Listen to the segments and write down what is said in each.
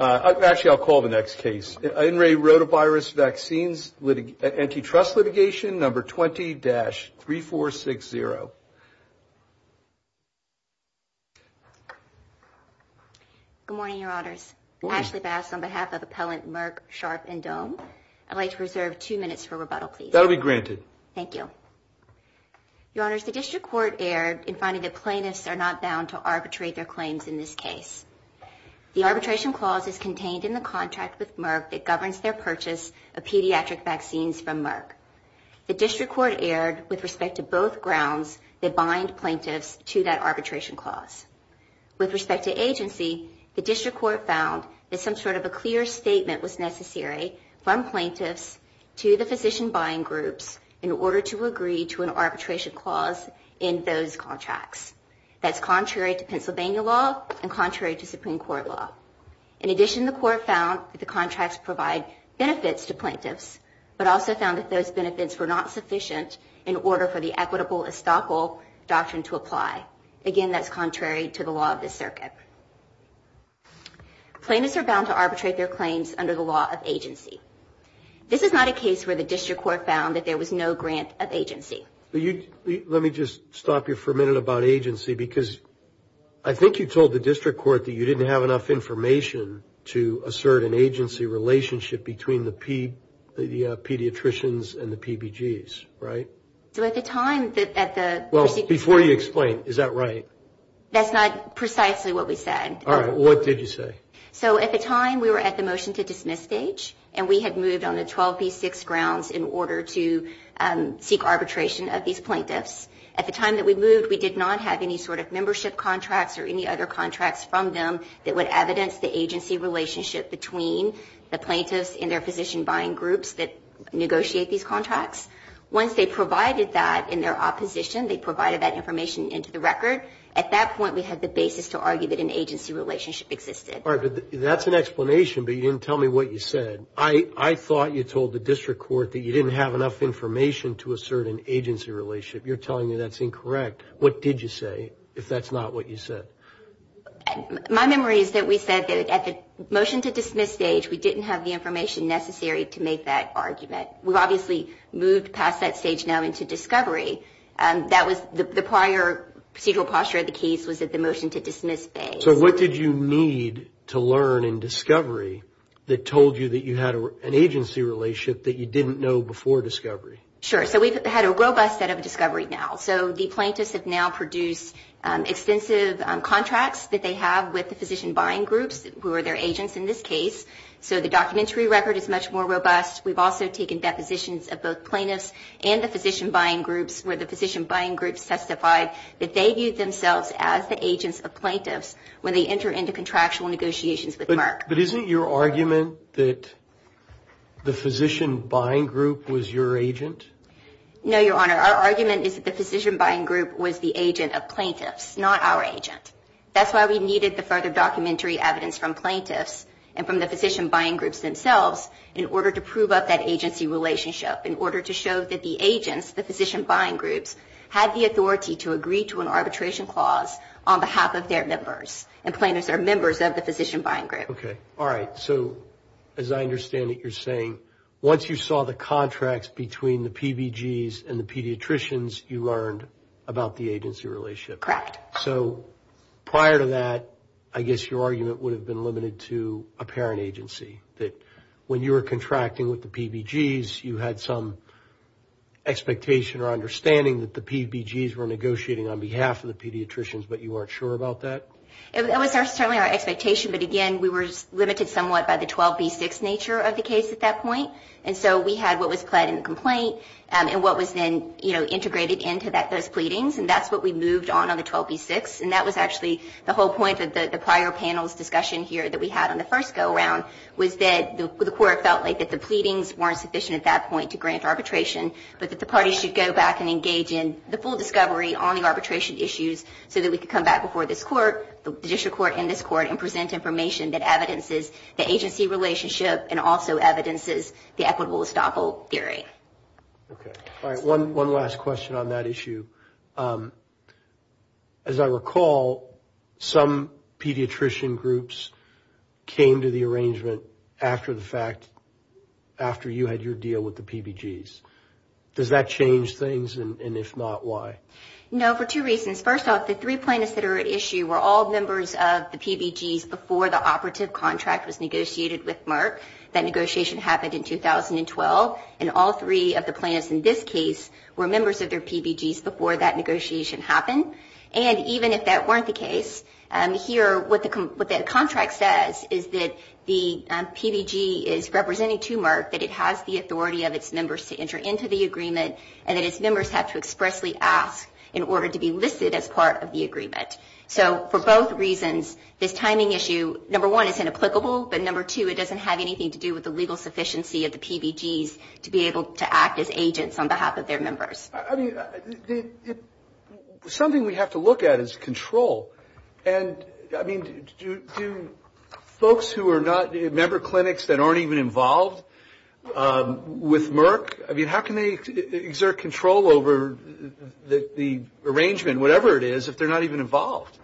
Actually, I'll call the next case. In Re Rotavirus Vaccines Antitrust Litigation Number 20-3460. Good morning, Your Honors. Ashley Bass on behalf of Appellant Merck, Sharp and Dohm. I'd like to reserve two minutes for rebuttal, please. That'll be granted. Thank you. Your Honors, the District Court erred in finding that plaintiffs are not bound to arbitrate their claims in this case. The arbitration clause is contained in the contract with Merck that governs their purchase of pediatric vaccines from Merck. The District Court erred with respect to both grounds that bind plaintiffs to that arbitration clause. With respect to agency, the District Court found that some sort of a clear statement was necessary from plaintiffs to the physician buying groups in order to agree to an arbitration clause in those contracts. That's contrary to Pennsylvania law and contrary to Supreme Court law. In addition, the court found that the contracts provide benefits to plaintiffs, but also found that those benefits were not sufficient in order for the equitable estoppel doctrine to apply. Again, that's contrary to the law of the circuit. Plaintiffs are bound to arbitrate their claims under the law of agency. was no grant of agency. But you let me just stop you for a minute about agency because I think you told the District Court that you didn't have enough information to assert an agency relationship between the pediatricians and the PBGs, right? So at the time that at the well before you explain, is that right? That's not precisely what we said. All right. What did you say? So at the time we were at the motion to dismiss stage and we had moved on a 12 v 6 grounds in order to seek arbitration of these plaintiffs at the time that we moved. We did not have any sort of membership contracts or any other contracts from them that would evidence the agency relationship between the plaintiffs in their position buying groups that negotiate these contracts. Once they provided that in their opposition, they provided that information into the record at that point. We had the basis to argue that an agency relationship existed or that's an explanation, but you didn't tell me what you said. I thought you told the District Court that you didn't have enough information to assert an agency relationship. You're telling me that's incorrect. What did you say if that's not what you said? My memory is that we said that at the motion to dismiss stage we didn't have the information necessary to make that argument. We've obviously moved past that stage now into discovery. That was the prior procedural posture of the case was at the motion to dismiss phase. So what did you need to learn in discovery that told you that an agency relationship that you didn't know before discovery? Sure. So we've had a robust set of discovery now. So the plaintiffs have now produced extensive contracts that they have with the physician buying groups who are their agents in this case. So the documentary record is much more robust. We've also taken depositions of both plaintiffs and the physician buying groups where the physician buying groups testified they enter into contractual negotiations with Merck. But isn't your argument that the physician buying group was your agent? No, your honor. Our argument is that the physician buying group was the agent of plaintiffs not our agent. That's why we needed the further documentary evidence from plaintiffs and from the physician buying groups themselves in order to prove up that agency relationship in order to show that the agents the physician buying groups had the authority to agree to an arbitration clause on behalf of their members and plaintiffs are members of the physician buying group. Okay. All right. So as I understand it, you're saying once you saw the contracts between the PBGs and the pediatricians you learned about the agency relationship. Correct. So prior to that, I guess your argument would have been limited to a parent agency that when you were contracting with the PBGs you had some expectation or understanding that the PBGs were negotiating on behalf of the pediatricians, but you weren't sure about that? It was certainly our expectation. But again, we were limited somewhat by the 12B6 nature of the case at that point. And so we had what was pledged in the complaint and what was then, you know, integrated into those pleadings. And that's what we moved on on the 12B6. And that was actually the whole point of the prior panel's discussion here that we had on the first go around was that the court felt like that the pleadings weren't sufficient at that point to grant arbitration, but that the parties should go back and engage in the full discovery on the arbitration issues so that we could come back before this court and present information that evidences the agency relationship and also evidences the equitable estoppel theory. Okay. All right. One last question on that issue. As I recall, some pediatrician groups came to the arrangement after the fact, after you had your deal with the PBGs. Does that change things? And if not, why? No, for two reasons. First off, the three plaintiffs that are at issue were all members of the PBGs before the operative contract was negotiated with Merck. That negotiation happened in 2012. And all three of the plaintiffs in this case were members of their PBGs before that negotiation happened. And even if that weren't the case, here, what the contract says is that the PBG is representing to Merck that it has the authority of its members to enter into the agreement and that its members have to expressly ask in order to be listed as part of the agreement. So for both reasons, this timing issue, number one, is inapplicable. But number two, it doesn't have anything to do with the legal sufficiency of the PBGs to be able to act as agents on behalf of their members. Something we have to look at is control. And I mean, do folks who are not member clinics that aren't even involved with Merck, I mean, how can they exert control over the arrangement, whatever it is, if they're not even involved?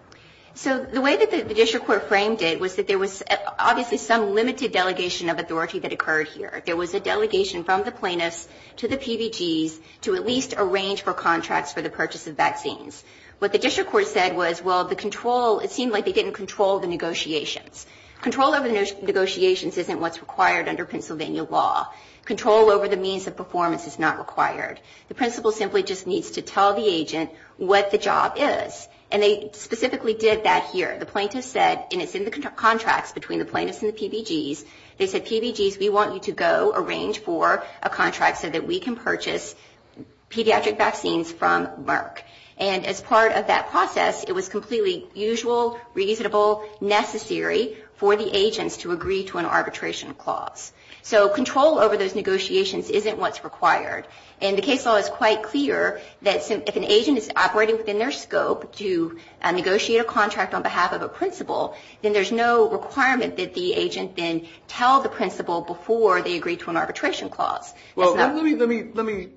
So the way that the district court framed it was that there was obviously some limited delegation of authority that occurred here. There was a delegation from the plaintiffs to the PBGs to at least arrange for contracts for the purchase of vaccines. What the district court said was, well, the control, it seemed like they didn't control the negotiations. Control over the negotiations isn't what's required under Pennsylvania law. Control over the means of performance is not required. The principal simply just needs to tell the agent what the job is. And they specifically did that here. The plaintiffs said, and it's in the contracts between the plaintiffs and the PBGs, they said, PBGs, we want you to go arrange for a contract so that we can purchase pediatric vaccines from Merck. And as part of that process, it was completely usual, reasonable, necessary for the agents to agree to an arbitration clause. So control over those negotiations isn't what's required. And the case law is quite clear that if an agent is operating within their scope to negotiate a contract on behalf of a principal, then there's no requirement that the agent then tell the principal before they agree to an arbitration clause. Well, let me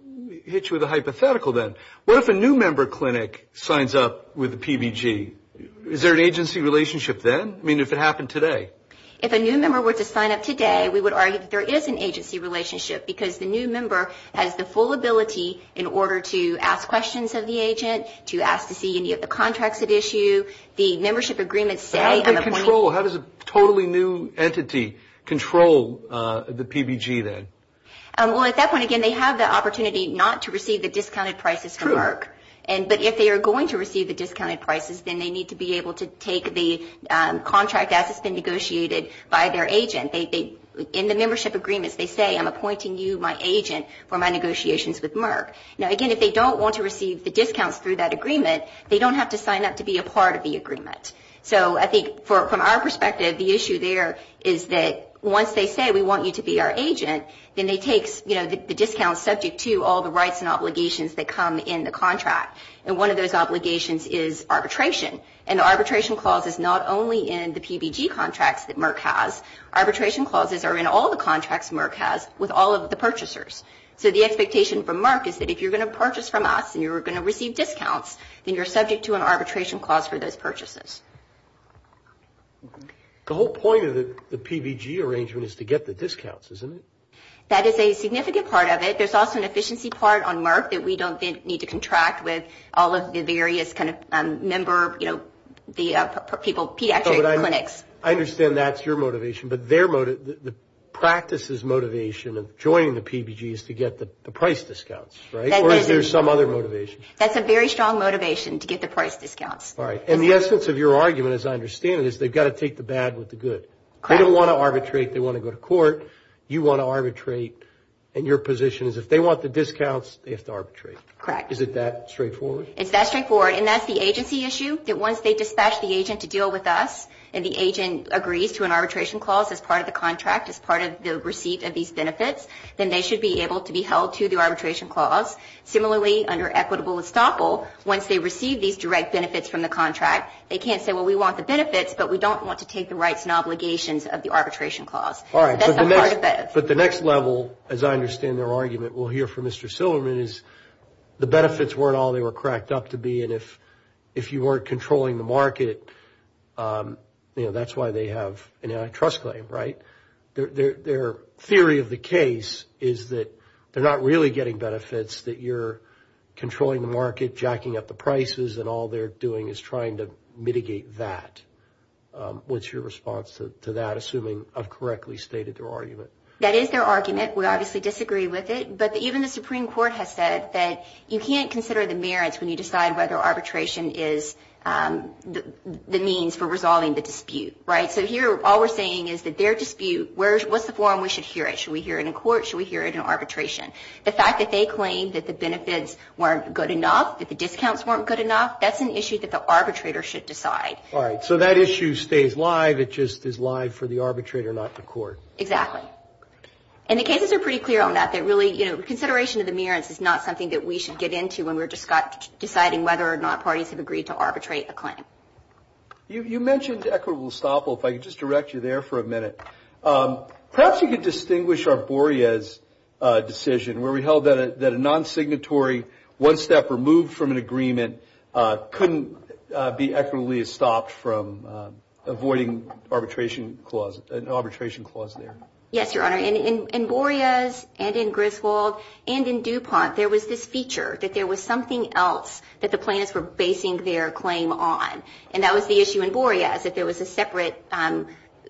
hit you with a hypothetical then. What if a new member clinic signs up with the PBG? Is there an agency relationship then? I mean, if it happened today? If a new member were to sign up today, we would argue that there is an agency relationship because the new member has the full ability in order to ask questions of the agent, to ask to see any of the contracts at issue, the membership agreements say... How do they control? How does a totally new entity control the PBG then? Well, at that point, again, they have the opportunity not to receive the discounted prices from Merck. But if they are going to receive the discounted prices, then they need to be able to take the contract as it's been negotiated by their agent. In the membership agreements, they say, I'm going to sign up to be a part of the agreement. So I think from our perspective, the issue there is that once they say we want you to be our agent, then they take the discount subject to all the rights and obligations that come in the contract. And one of those obligations is arbitration. And the arbitration clause is not only in the PBG contracts that Merck has. Arbitration clauses are in all the contracts is that the agent is going to be able to take the contract from Merck is that if you're going to purchase from us and you're going to receive discounts, then you're subject to an arbitration clause for those purchases. The whole point of the PBG arrangement is to get the discounts, isn't it? That is a significant part of it. There's also an efficiency part on Merck that we don't think need to contract with all of the various kind of member, you know, the people, pediatric clinics. I understand that's your motivation, but their motive, the practice's motivation of joining the PBG is to get the price discounts, right? Or is there some other motivation? That's a very strong motivation to get the price discounts. All right. And the essence of your argument, as I understand it, is they've got to take the bad with the good. They don't want to arbitrate. They want to go to court. You want to arbitrate and your position is if they want the discounts, they have to arbitrate. Correct. Is it that straightforward? It's that straightforward. And that's the agency issue that once they dispatch the agent to deal with us and the agent agrees to an arbitration clause as part of the contract, as part of the receipt of these to the arbitration clause. Similarly, under equitable estoppel, once they receive these direct benefits from the contract, they can't say, well, we want the benefits, but we don't want to take the rights and obligations of the arbitration clause. All right. That's a part of it. But the next level, as I understand their argument, we'll hear from Mr. Silverman is the benefits weren't all they were cracked up to be. And if you weren't controlling the market, you know, that's why they have an antitrust claim, right? Their theory of the case is that they're not really getting benefits, that you're controlling the market, jacking up the prices, and all they're doing is trying to mitigate that. What's your response to that? Assuming I've correctly stated their argument. That is their argument. We obviously disagree with it. But even the Supreme Court has said that you can't consider the merits when you decide whether arbitration is the means for resolving the dispute, right? So here, all we're saying is that their dispute, what's the forum we should hear it? Should we hear it in court? Should we hear it in arbitration? The fact that they claim that the benefits weren't good enough, that the discounts weren't good enough, that's an issue that the arbitrator should decide. All right. So that issue stays live. It just is live for the arbitrator, not the court. Exactly. And the cases are pretty clear on that. They're really, you know, consideration of the merits is not something that we should get into when we're deciding whether or not parties have agreed to arbitrate a claim. You mentioned equitable estoppel. If I could just direct you there for a minute. Perhaps you could distinguish our Boreas decision where we held that a non-signatory, one step removed from an agreement couldn't be equitably estopped from avoiding an arbitration clause there. Yes, Your Honor. In Boreas and in Griswold and in DuPont, there was this feature that there was something else that the plaintiffs were basing their claim on, and that was the issue in Boreas, that there was a separate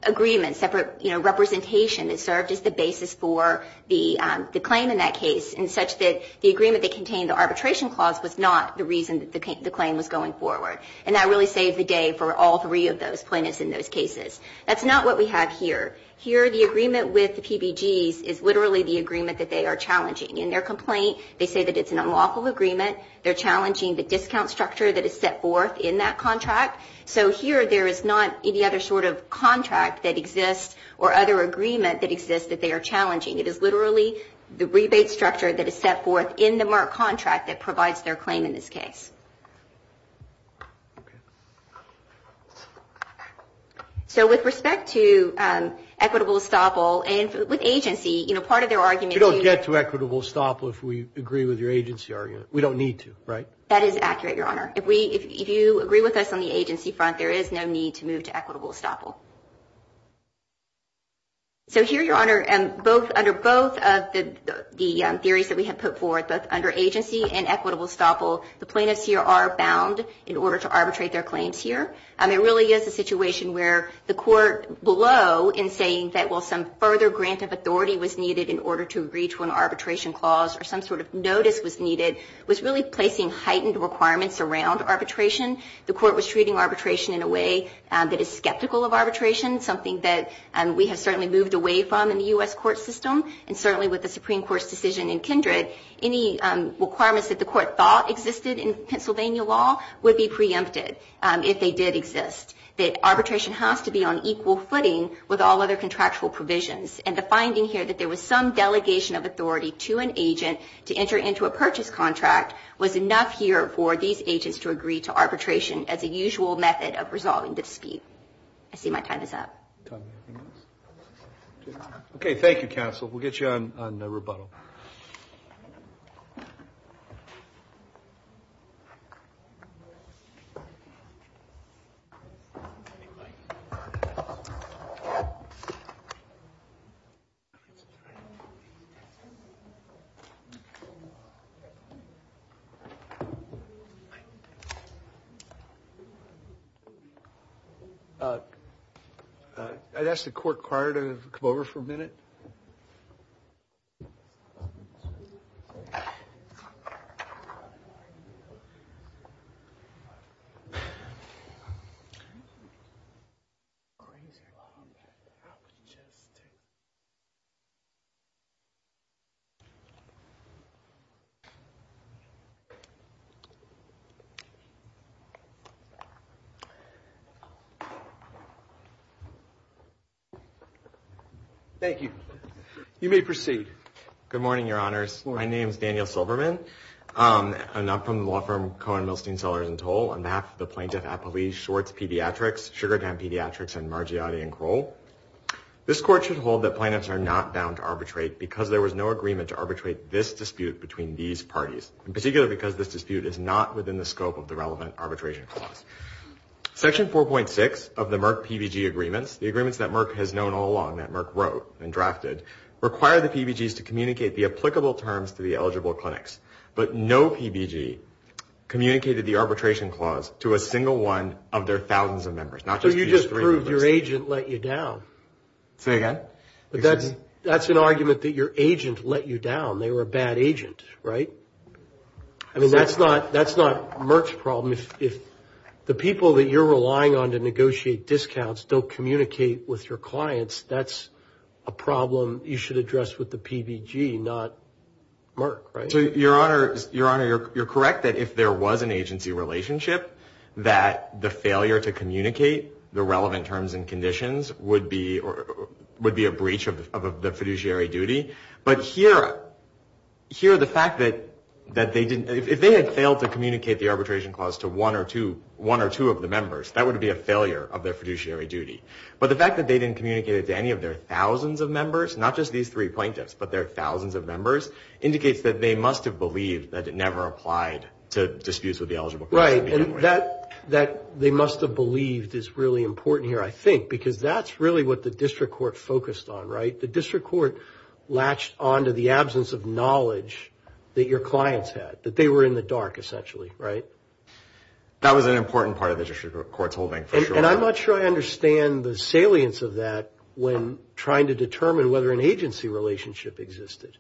agreement, separate, you know, representation that served as the basis for the claim in that case and such that the agreement that contained the arbitration clause was not the reason that the claim was going forward. And that really saved the day for all three of those plaintiffs in those cases. That's not what we have here. Here, the agreement with the PBGs is literally the agreement that they are challenging. In their complaint, they say that it's an unlawful agreement. They're challenging the discount structure that is set forth in that contract. So here, there is not any other sort of contract that exists or other agreement that exists that they are challenging. It is literally the rebate structure that is set forth in the Merck contract that provides their claim in this case. So with respect to equitable estoppel and with agency, you know, part of their argument is... You don't get to equitable estoppel if we agree with your agency argument. We don't need to, right? That is accurate, Your Honor. If you agree with us on the agency front, there is no need to move to equitable estoppel. So here, Your Honor, under both of the theories that we have put forth, under agency and equitable estoppel, the plaintiffs here are bound in order to arbitrate their claims here. It really is a situation where the court below in saying that while some further grant of authority was needed in order to reach one arbitration clause or some sort of arbitration clause, was really placing heightened requirements around arbitration. The court was treating arbitration in a way that is skeptical of arbitration, something that we have certainly moved away from in the U.S. court system and certainly with the Supreme Court's decision in Kindred, any requirements that the court thought existed in Pennsylvania law would be preempted if they did exist. That arbitration has to be on equal footing with all other contractual provisions and the finding here that there was some delegation of authority to an agent to enter into a purchase contract was enough here for these agents to agree to arbitration as a usual method of resolving dispute. I see my time is up. Okay. Thank you, counsel. We'll get you on rebuttal. I'd ask the court prior to come over for a minute. Thank you. You may proceed. Good morning, your honors. My name is Daniel Silverman and I'm from the law firm Cohen, Milstein, Sellers & Toll. On behalf of the plaintiff at Appalachia, Schwartz Pediatrics, Sugarcane Pediatrics, and Margiotti & Kroll, this court should hold that plaintiffs are not bound to arbitrate because there The plaintiffs are not bound to arbitrate this dispute. The plaintiffs are not bound to arbitrate this dispute. In particular, because this dispute is not within the scope of the relevant arbitration clause. Section 4.6 of the Merck PBG agreements, the agreements that Merck has known all along, that Merck wrote and drafted, require the PBGs to communicate the applicable terms to the eligible clinics, but no PBG communicated the arbitration clause to a single one of their thousands of members. So you just proved your agent let you down. Say again? But that's an argument that your agent let you down. They were a bad agent, right? I mean, that's not that's not Merck's problem. If the people that you're relying on to negotiate discounts don't communicate with your clients, that's a problem you should address with the PBG, not Merck, right? So your honor, your honor, you're correct that if there was an agency relationship, that the failure to communicate the relevant terms and conditions would be a breach of the fiduciary duty. But here, the fact that they didn't, if they had failed to communicate the arbitration clause to one or two of the members, that would be a failure of their fiduciary duty. But the fact that they didn't communicate it to any of their thousands of members, not just these three plaintiffs, but their thousands of members, indicates that they must have believed that it never applied to disputes with the eligible person. Right, and that they must have believed is really important here, I think, because that's really what the district court focused on, right? The district court latched onto the absence of knowledge that your clients had, that they were in the dark, essentially, right? That was an important part of the district court's holding, for sure. And I'm not sure I understand the salience of that when trying to determine whether an agency relationship existed.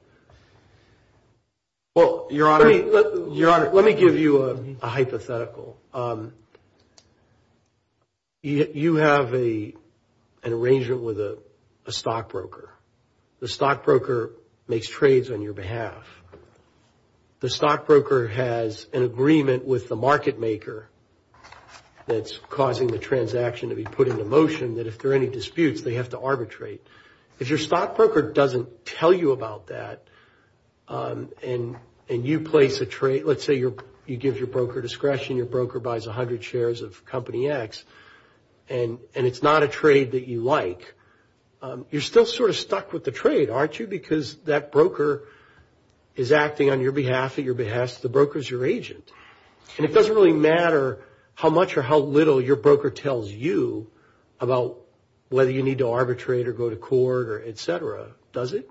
Well, your honor, let me give you a hypothetical. You have an arrangement with a stockbroker. The stockbroker makes trades on your behalf. The stockbroker has an agreement with the market maker that's causing the transaction to be put into motion, that if there are any disputes, they have to arbitrate. If your stockbroker doesn't tell you about that, and you place a trade, let's say you give your broker discretion, your broker buys 100 shares of Company X, and it's not a trade that you like, you're still sort of stuck with the trade, aren't you? Because that broker is acting on your behalf, at your behest, the broker's your agent. And it doesn't really matter how much or how little your broker tells you about whether you need to arbitrate or go to court or etc. Does it?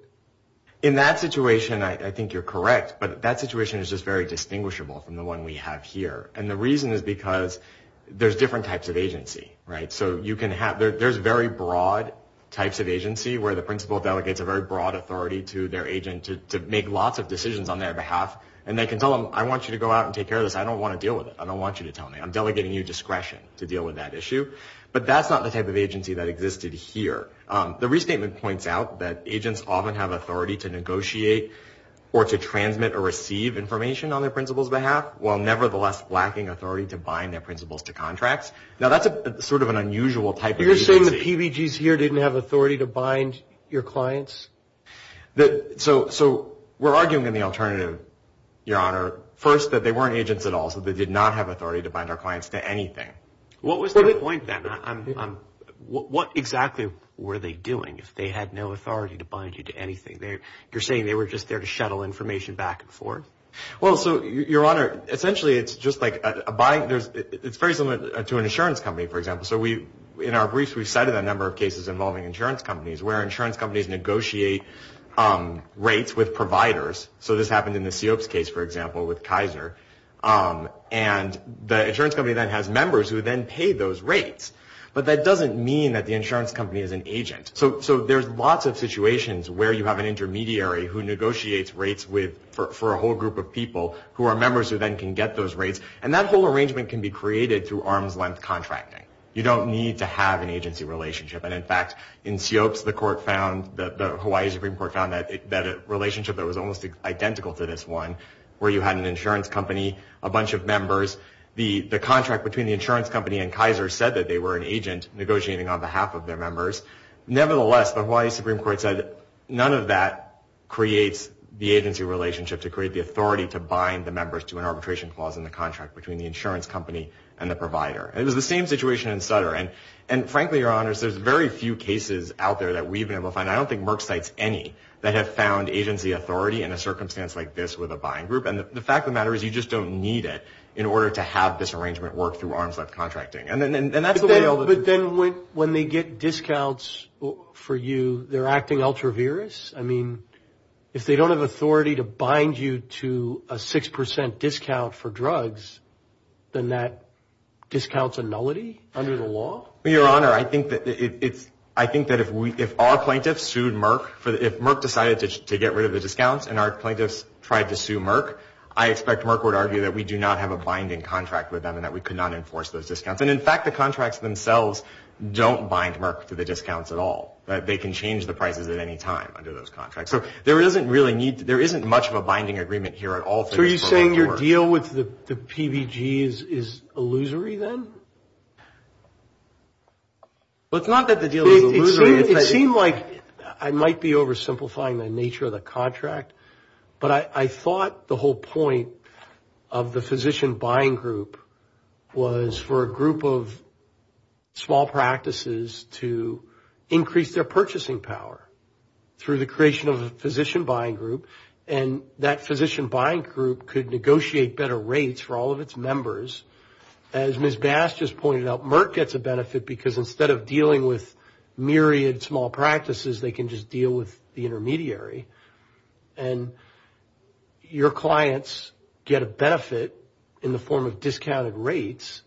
In that situation, I think you're correct, but that situation is just very distinguishable from the one we have here. And the reason is because there's different types of agency, right? So there's very broad types of agency where the principal delegates a very broad authority to their agent to make lots of decisions on their behalf, and they can tell them, I want you to go out and take care of this. I don't want to deal with it. I don't want you to tell me. I'm delegating you discretion to deal with that issue. But that's not the type of agency that existed here. The restatement points out that agents often have authority to negotiate or to transmit or receive information on their authority to bind their principals to contracts. Now, that's a sort of an unusual type. You're saying the PBG's here didn't have authority to bind your clients? So we're arguing in the alternative, Your Honor, first that they weren't agents at all. So they did not have authority to bind our clients to anything. What was the point then? What exactly were they doing? If they had no authority to bind you to anything there, you're saying they were just there to shuttle information back and forth? Well, so, Your Honor, essentially it's just like a bind. It's very similar to an insurance company, for example. So we, in our briefs, we've cited a number of cases involving insurance companies where insurance companies negotiate rates with providers. So this happened in the Seops case, for example, with Kaiser. And the insurance company then has members who then pay those rates. But that doesn't mean that the insurance company is an agent. So there's lots of situations where you have an intermediary who negotiates rates for a whole group of people who are members who then can get those rates. And that whole arrangement can be created through arm's length contracting. You don't need to have an agency relationship. And in fact, in Seops, the court found, the Hawaii Supreme Court found, that a relationship that was almost identical to this one, where you had an insurance company, a bunch of members, the contract between the insurance company and Kaiser said that they were an agent negotiating on behalf of their members. Nevertheless, the Hawaii Supreme Court said none of that creates the agency relationship to create the authority to bind the members to an arbitration clause in the contract between the insurance company and the provider. And it was the same situation in Sutter. And frankly, Your Honors, there's very few cases out there that we've been able to find. I don't think Merck cites any that have found agency authority in a circumstance like this with a buying group. And the fact of the matter is you just don't need it in order to have this arrangement work through arm's length contracting. And that's the way all the... But then when they get discounts for you, they're acting ultra-virous? I mean, if they don't have authority to bind you to a six percent discount for drugs, then that discounts a nullity under the law? Your Honor, I think that if our plaintiffs sued Merck, if Merck decided to get rid of the discounts and our plaintiffs tried to sue Merck, I expect Merck would argue that we do not have a binding contract with them and that we could not enforce those discounts. And in fact, the contracts themselves don't bind Merck to the discounts at all, that they can change the prices at any time under those contracts. So there isn't much of a binding agreement here at all. So are you saying your deal with the PBG is illusory then? Well, it's not that the deal is illusory. It seemed like I might be oversimplifying the nature of the contract, but I thought the whole point of the physician buying group was for a group of small practices to increase their purchasing power through the creation of a physician buying group and that physician buying group could negotiate better rates for all of its members. As Ms. Bass just pointed out, Merck gets a benefit because instead of dealing with myriad small practices, they can just deal with the intermediary and your clients get a benefit in the form of discounted rates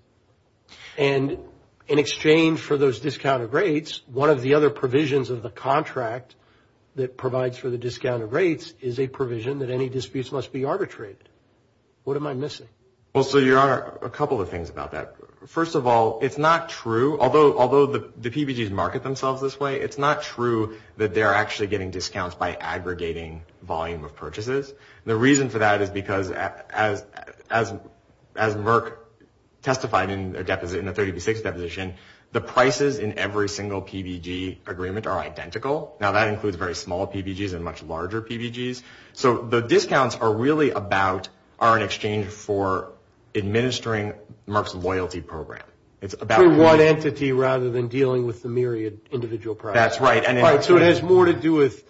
and in exchange for those provisions of the contract that provides for the discounted rates is a provision that any disputes must be arbitrated. What am I missing? Well, so your Honor, a couple of things about that. First of all, it's not true, although the PBGs market themselves this way, it's not true that they're actually getting discounts by aggregating volume of purchases. The reason for that is because as Merck testified in their 3036 deposition, the prices in every single PBG agreement are identical. Now, that includes very small PBGs and much larger PBGs. So the discounts are really about, are in exchange for administering Merck's loyalty program. It's about one entity rather than dealing with the myriad individual products. That's right. So it has more to do with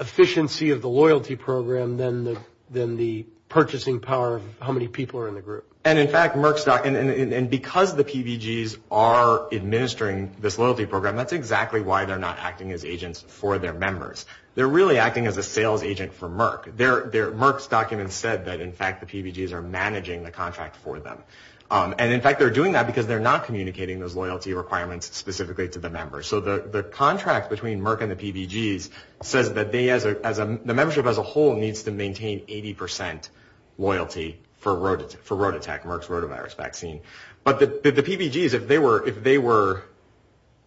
efficiency of the loyalty program than the purchasing power of how many people are in the group. And in fact, Merck's document, and because the PBGs are administering this loyalty program, that's exactly why they're not acting as agents for their members. They're really acting as a sales agent for Merck. Merck's document said that in fact the PBGs are managing the contract for them. And in fact, they're doing that because they're not communicating those loyalty requirements specifically to the members. So the contract between Merck and the PBGs says that the membership as a whole needs to maintain 80% loyalty for road attack, Merck's rotavirus vaccine. But the PBGs, if they were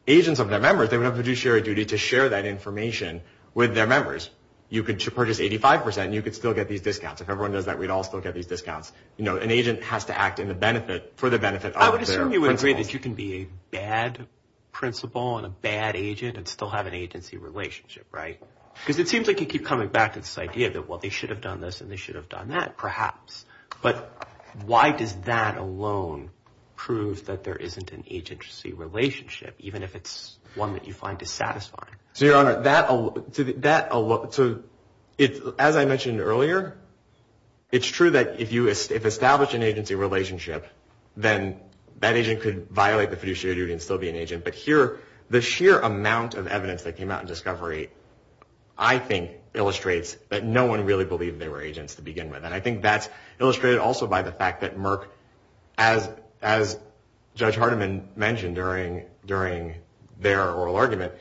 agents of their members, they would have fiduciary duty to share that information with their members. You could purchase 85%. You could still get these discounts. If everyone does that, we'd all still get these discounts. You know, an agent has to act for the benefit of their principals. I would assume you would agree that you can be a bad principal and a bad agent and still have an agency relationship, right? Because it seems like you keep coming back to this idea that well, they should have done this and they should have done that perhaps. But why does that alone prove that there isn't an agency relationship, even if it's one that you find dissatisfying? So, Your Honor, as I mentioned earlier, it's true that if you establish an agency relationship, then that agent could violate the fiduciary duty and still be an agent. But here, the sheer amount of evidence that came out in discovery, I think illustrates that no one really believed they were agents to begin with. And I think that's illustrated also by the fact that Merck, as Judge Hardiman mentioned during their oral argument,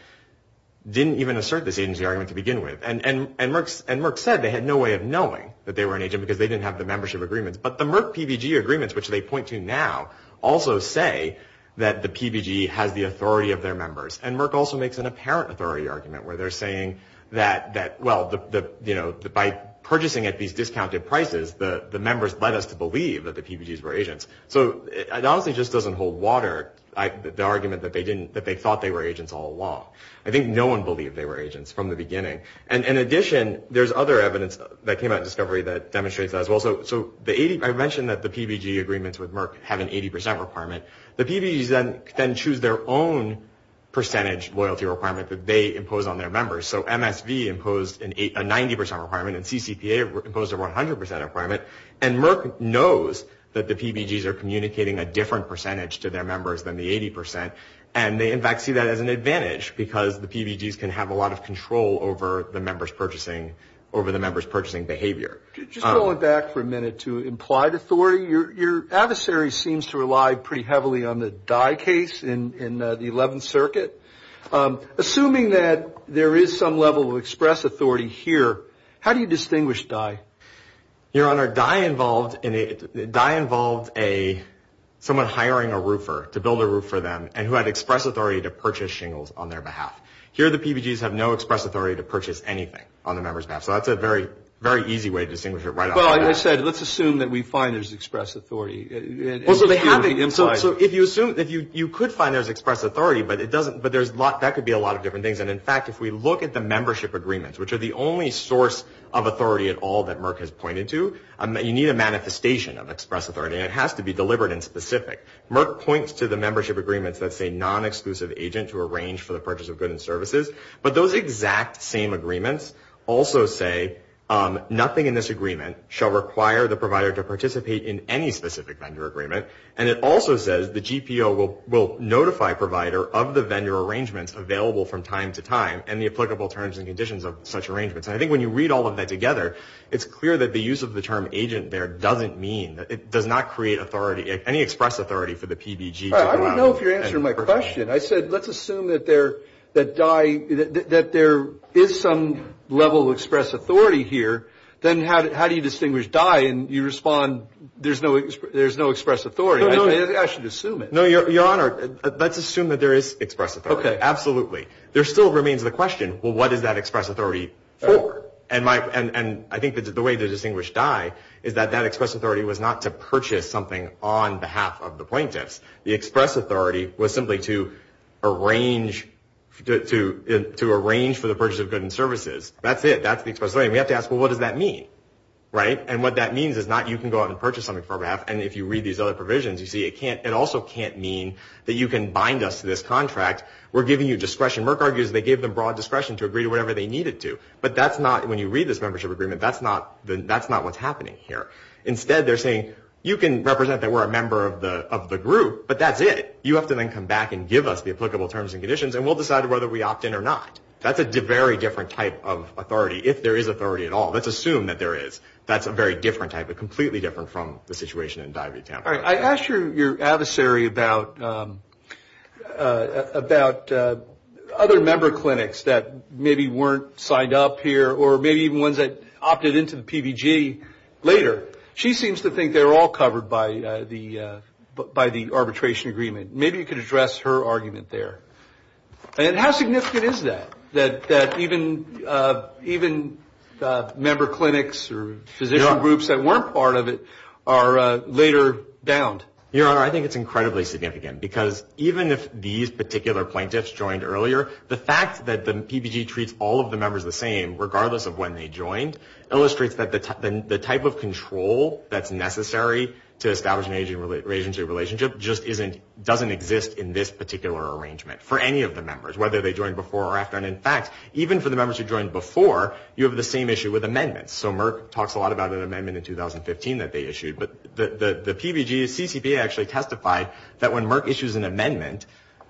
didn't even assert this agency argument to begin with. And Merck said they had no way of knowing that they were an agent because they didn't have the membership agreements. But the Merck PBG agreements, which they point to now, also say that the PBG has the authority of their members. And Merck also makes an apparent authority argument where they're saying that, well, by purchasing at these discounted prices, the members led us to believe that the PBGs were agents. So it honestly just doesn't hold water, the argument that they thought they were agents all along. I think no one believed they were agents from the beginning. And in addition, there's other evidence that came out in discovery that demonstrates that as well. So I mentioned that the PBG agreements with Merck have an 80 percent requirement. The PBGs then choose their own percentage loyalty requirement that they impose on their members. So MSV imposed a 90 percent requirement, and CCPA imposed a 100 percent requirement. And Merck knows that the PBGs are communicating a different percentage to their members than the 80 percent, and they in fact see that as an advantage because the PBGs can have a lot of control over the members purchasing behavior. Just going back for a minute to implied authority, your adversary seems to rely pretty heavily on the Dye case in the 11th Circuit. Assuming that there is some level of express authority here, how do you distinguish Dye? Your Honor, Dye involved someone hiring a roofer to build a roof for them and who had express authority to purchase shingles on their behalf. Here the PBGs have no express authority to purchase anything on the member's behalf. So that's a very easy way to distinguish it right off the bat. Well, like I said, let's assume that we find there's express authority. So if you assume, you could find there's express authority, but that could be a lot of different things. And in fact, if we look at the membership agreements, which are the only source of authority at all that Merck has pointed to, you need a manifestation of express authority and it has to be deliberate and specific. Merck points to the membership agreements that say non-exclusive agent to arrange for the purchase of goods and services, but those exact same agreements also say nothing in this agreement shall require the provider to participate in any specific vendor agreement. And it also says the GPO will notify provider of the vendor arrangements available from time to time and the applicable terms and conditions of such arrangements. And I think when you read all of that together, it's clear that the use of the term agent there doesn't mean, it does not create authority, any express authority for the PBG. I don't know if you're answering my question. I said, let's assume that there is some level of express authority here, then how do you distinguish die? And you respond, there's no express authority. I should assume it. No, Your Honor, let's assume that there is express authority. Absolutely. There still remains the question, well, what is that express authority for? And I think the way to distinguish die is that that express authority was not to purchase something on behalf of the plaintiffs. The express authority was simply to arrange for the purchase of goods and services. That's it. That's the express authority. We have to ask, well, what does that mean, right? And what that means is not you can go out and purchase something for our behalf. And if you read these other provisions, you see it also can't mean that you can bind us to this contract. We're giving you discretion. Merck argues they gave them broad discretion to agree to whatever they needed to. But that's not, when you read this membership agreement, that's not what's happening here. Instead, they're saying, you can represent that we're a member of the group, but that's it. You have to then come back and give us the applicable terms and conditions, and we'll decide whether we opt in or not. That's a very different type of authority, if there is authority at all. Let's assume that there is. That's a very different type, but completely different from the situation in Diabetes Tampa. All right, I asked your adversary about other member clinics that maybe weren't signed up here, or maybe even ones that opted into the PVG later. She seems to think they're all covered by the arbitration agreement. Maybe you could address her argument there. And how significant is that, that even member clinics or physician groups that weren't part of it are later bound? Your Honor, I think it's incredibly significant, because even if these particular plaintiffs joined earlier, the fact that the PVG treats all of the members the same, regardless of when they joined, illustrates that the type of control that's necessary to establish an agency relationship just doesn't exist in this particular arrangement, for any of the members, whether they joined before or after. And in fact, even for the members who joined before, you have the same issue with amendments. So Merck talks a lot about an amendment in 2015 that they issued. But the PVG, the CCPA actually testified that when Merck issues an amendment,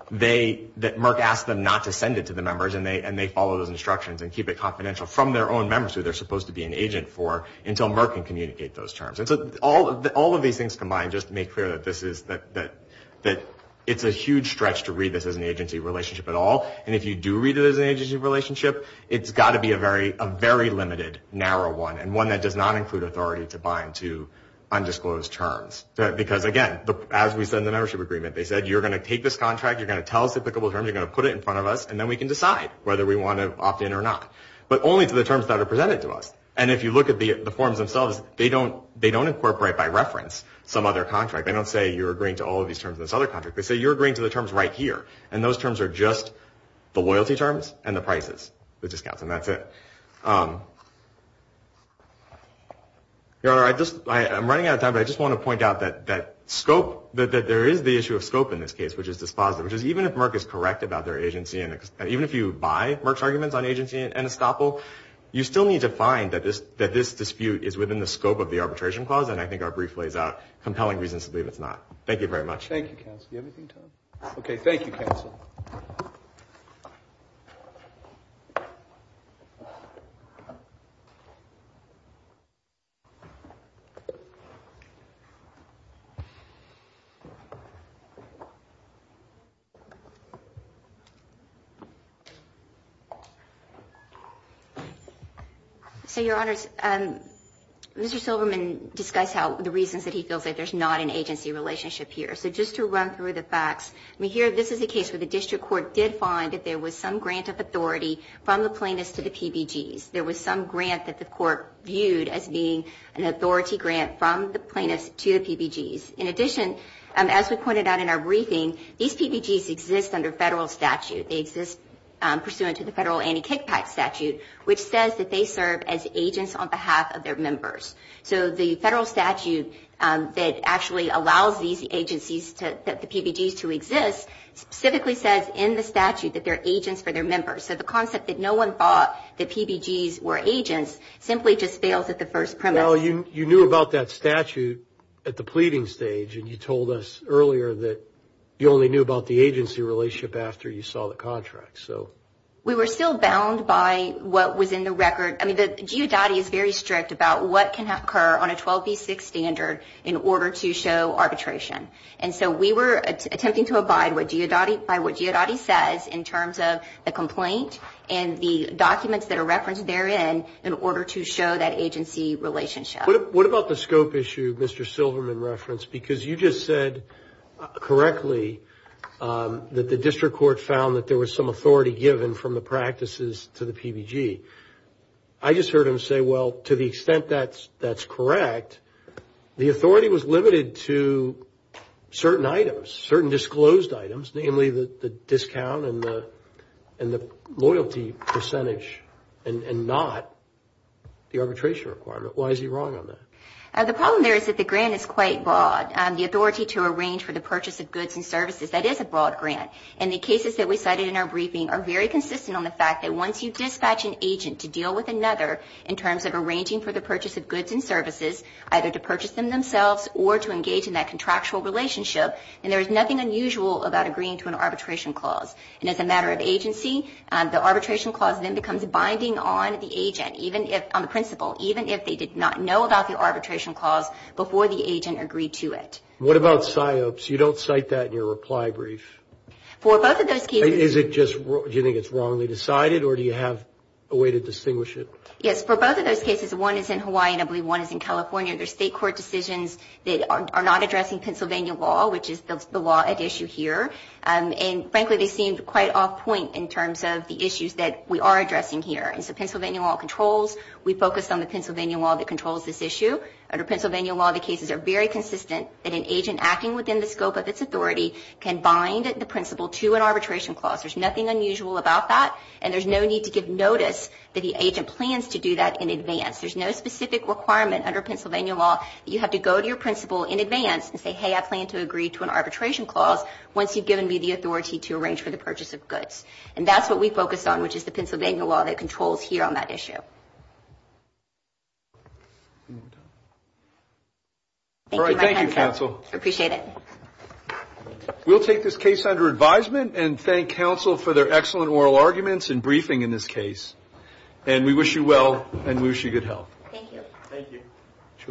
that Merck asks them not to send it to the members, and they follow those instructions and keep it confidential from their own members, who they're supposed to be an agent for, until Merck can communicate those terms. And so all of these things combined just make clear that this is, that it's a huge stretch to read this as an agency relationship at all. And if you do read it as an agency relationship, it's got to be a very limited, narrow one, and one that does not include authority to bind to undisclosed terms. Because again, as we said in the membership agreement, they said, you're going to take this contract, you're going to tell us applicable terms, you're going to put it in front of us, and then we can decide whether we want to opt in or not. But only to the terms that are presented to us. And if you look at the forms themselves, they don't incorporate by reference some other contract. They don't say, you're agreeing to all of these terms in this other contract. They say, you're agreeing to the terms right here. And those terms are just the loyalty terms and the prices, the discounts, and that's it. Your Honor, I just, I'm running out of time, but I just want to point out that scope, that there is the issue of scope in this case, which is dispositive. Which is, even if Merck is correct about their agency, and even if you buy Merck's arguments on agency and estoppel, you still need to find that this dispute is within the scope of the arbitration clause. And I think our brief lays out compelling reasons to believe it's not. Thank you very much. Thank you, counsel. Do you have anything to add? Okay, thank you, counsel. So, Your Honors, Mr. Silverman discussed how, the reasons that he feels that there's not an agency relationship here. So, just to run through the facts, I mean, here, this is a case where the district court did find that there was some grant of authority from the plaintiffs to the PBGs. There was some grant that the court viewed as being an authority grant from the plaintiffs to the PBGs. In addition, as we pointed out in our briefing, these PBGs exist under federal statute. They exist pursuant to the federal anti-kickback statute, which says that they serve as agents on behalf of their members. So, the federal statute that actually allows these PBGs to exist specifically says in the statute that they're agents for their members. So, the concept that no one thought that PBGs were agents simply just fails at the first premise. Well, you knew about that statute at the pleading stage, and you told us earlier that you only knew about the agency relationship after you saw the contract, so. We were still bound by what was in the record. I mean, the GEODOTTI is very strict about what can occur on a 12b6 standard in order to show arbitration. And so, we were attempting to abide by what GEODOTTI says in terms of the complaint and the documents that are referenced therein in order to show that agency relationship. What about the scope issue Mr. Silverman referenced? Because you just said correctly that the district court found that there was some authority given from the practices to the PBG. I just heard him say, well, to the extent that's correct, the authority was limited to certain items, certain disclosed items, namely the discount and the loyalty percentage and not the arbitration requirement. Why is he wrong on that? The problem there is that the grant is quite broad. The authority to arrange for the purchase of goods and services, that is a broad grant. And the cases that we cited in our briefing are very consistent on the fact that once you dispatch an agent to deal with another in terms of services, either to purchase them themselves or to engage in that contractual relationship, then there is nothing unusual about agreeing to an arbitration clause. And as a matter of agency, the arbitration clause then becomes binding on the agent, even if, on the principle, even if they did not know about the arbitration clause before the agent agreed to it. What about PSYOPs? You don't cite that in your reply brief. For both of those cases. Is it just, do you think it's wrongly decided or do you have a way to distinguish it? Yes, for both of those cases, one is in Hawaii and I believe one is in California. There's state court decisions that are not addressing Pennsylvania law, which is the law at issue here. And frankly, they seem quite off point in terms of the issues that we are addressing here. And so Pennsylvania law controls, we focus on the Pennsylvania law that controls this issue. Under Pennsylvania law, the cases are very consistent that an agent acting within the scope of its authority can bind the principle to an arbitration clause. There's nothing unusual about that. And there's no need to give notice that the agent plans to do that in advance. There's no specific requirement under Pennsylvania law that you have to go to your principle in advance and say, hey, I plan to agree to an arbitration clause once you've given me the authority to arrange for the purchase of goods. And that's what we focus on, which is the Pennsylvania law that controls here on that issue. All right. Thank you, counsel. Appreciate it. We'll take this case under advisement and thank Thank you. Thank you. Thank you. Thank you. Thank you. Thank you. Thank you. Thank you. Thank you. Thank you.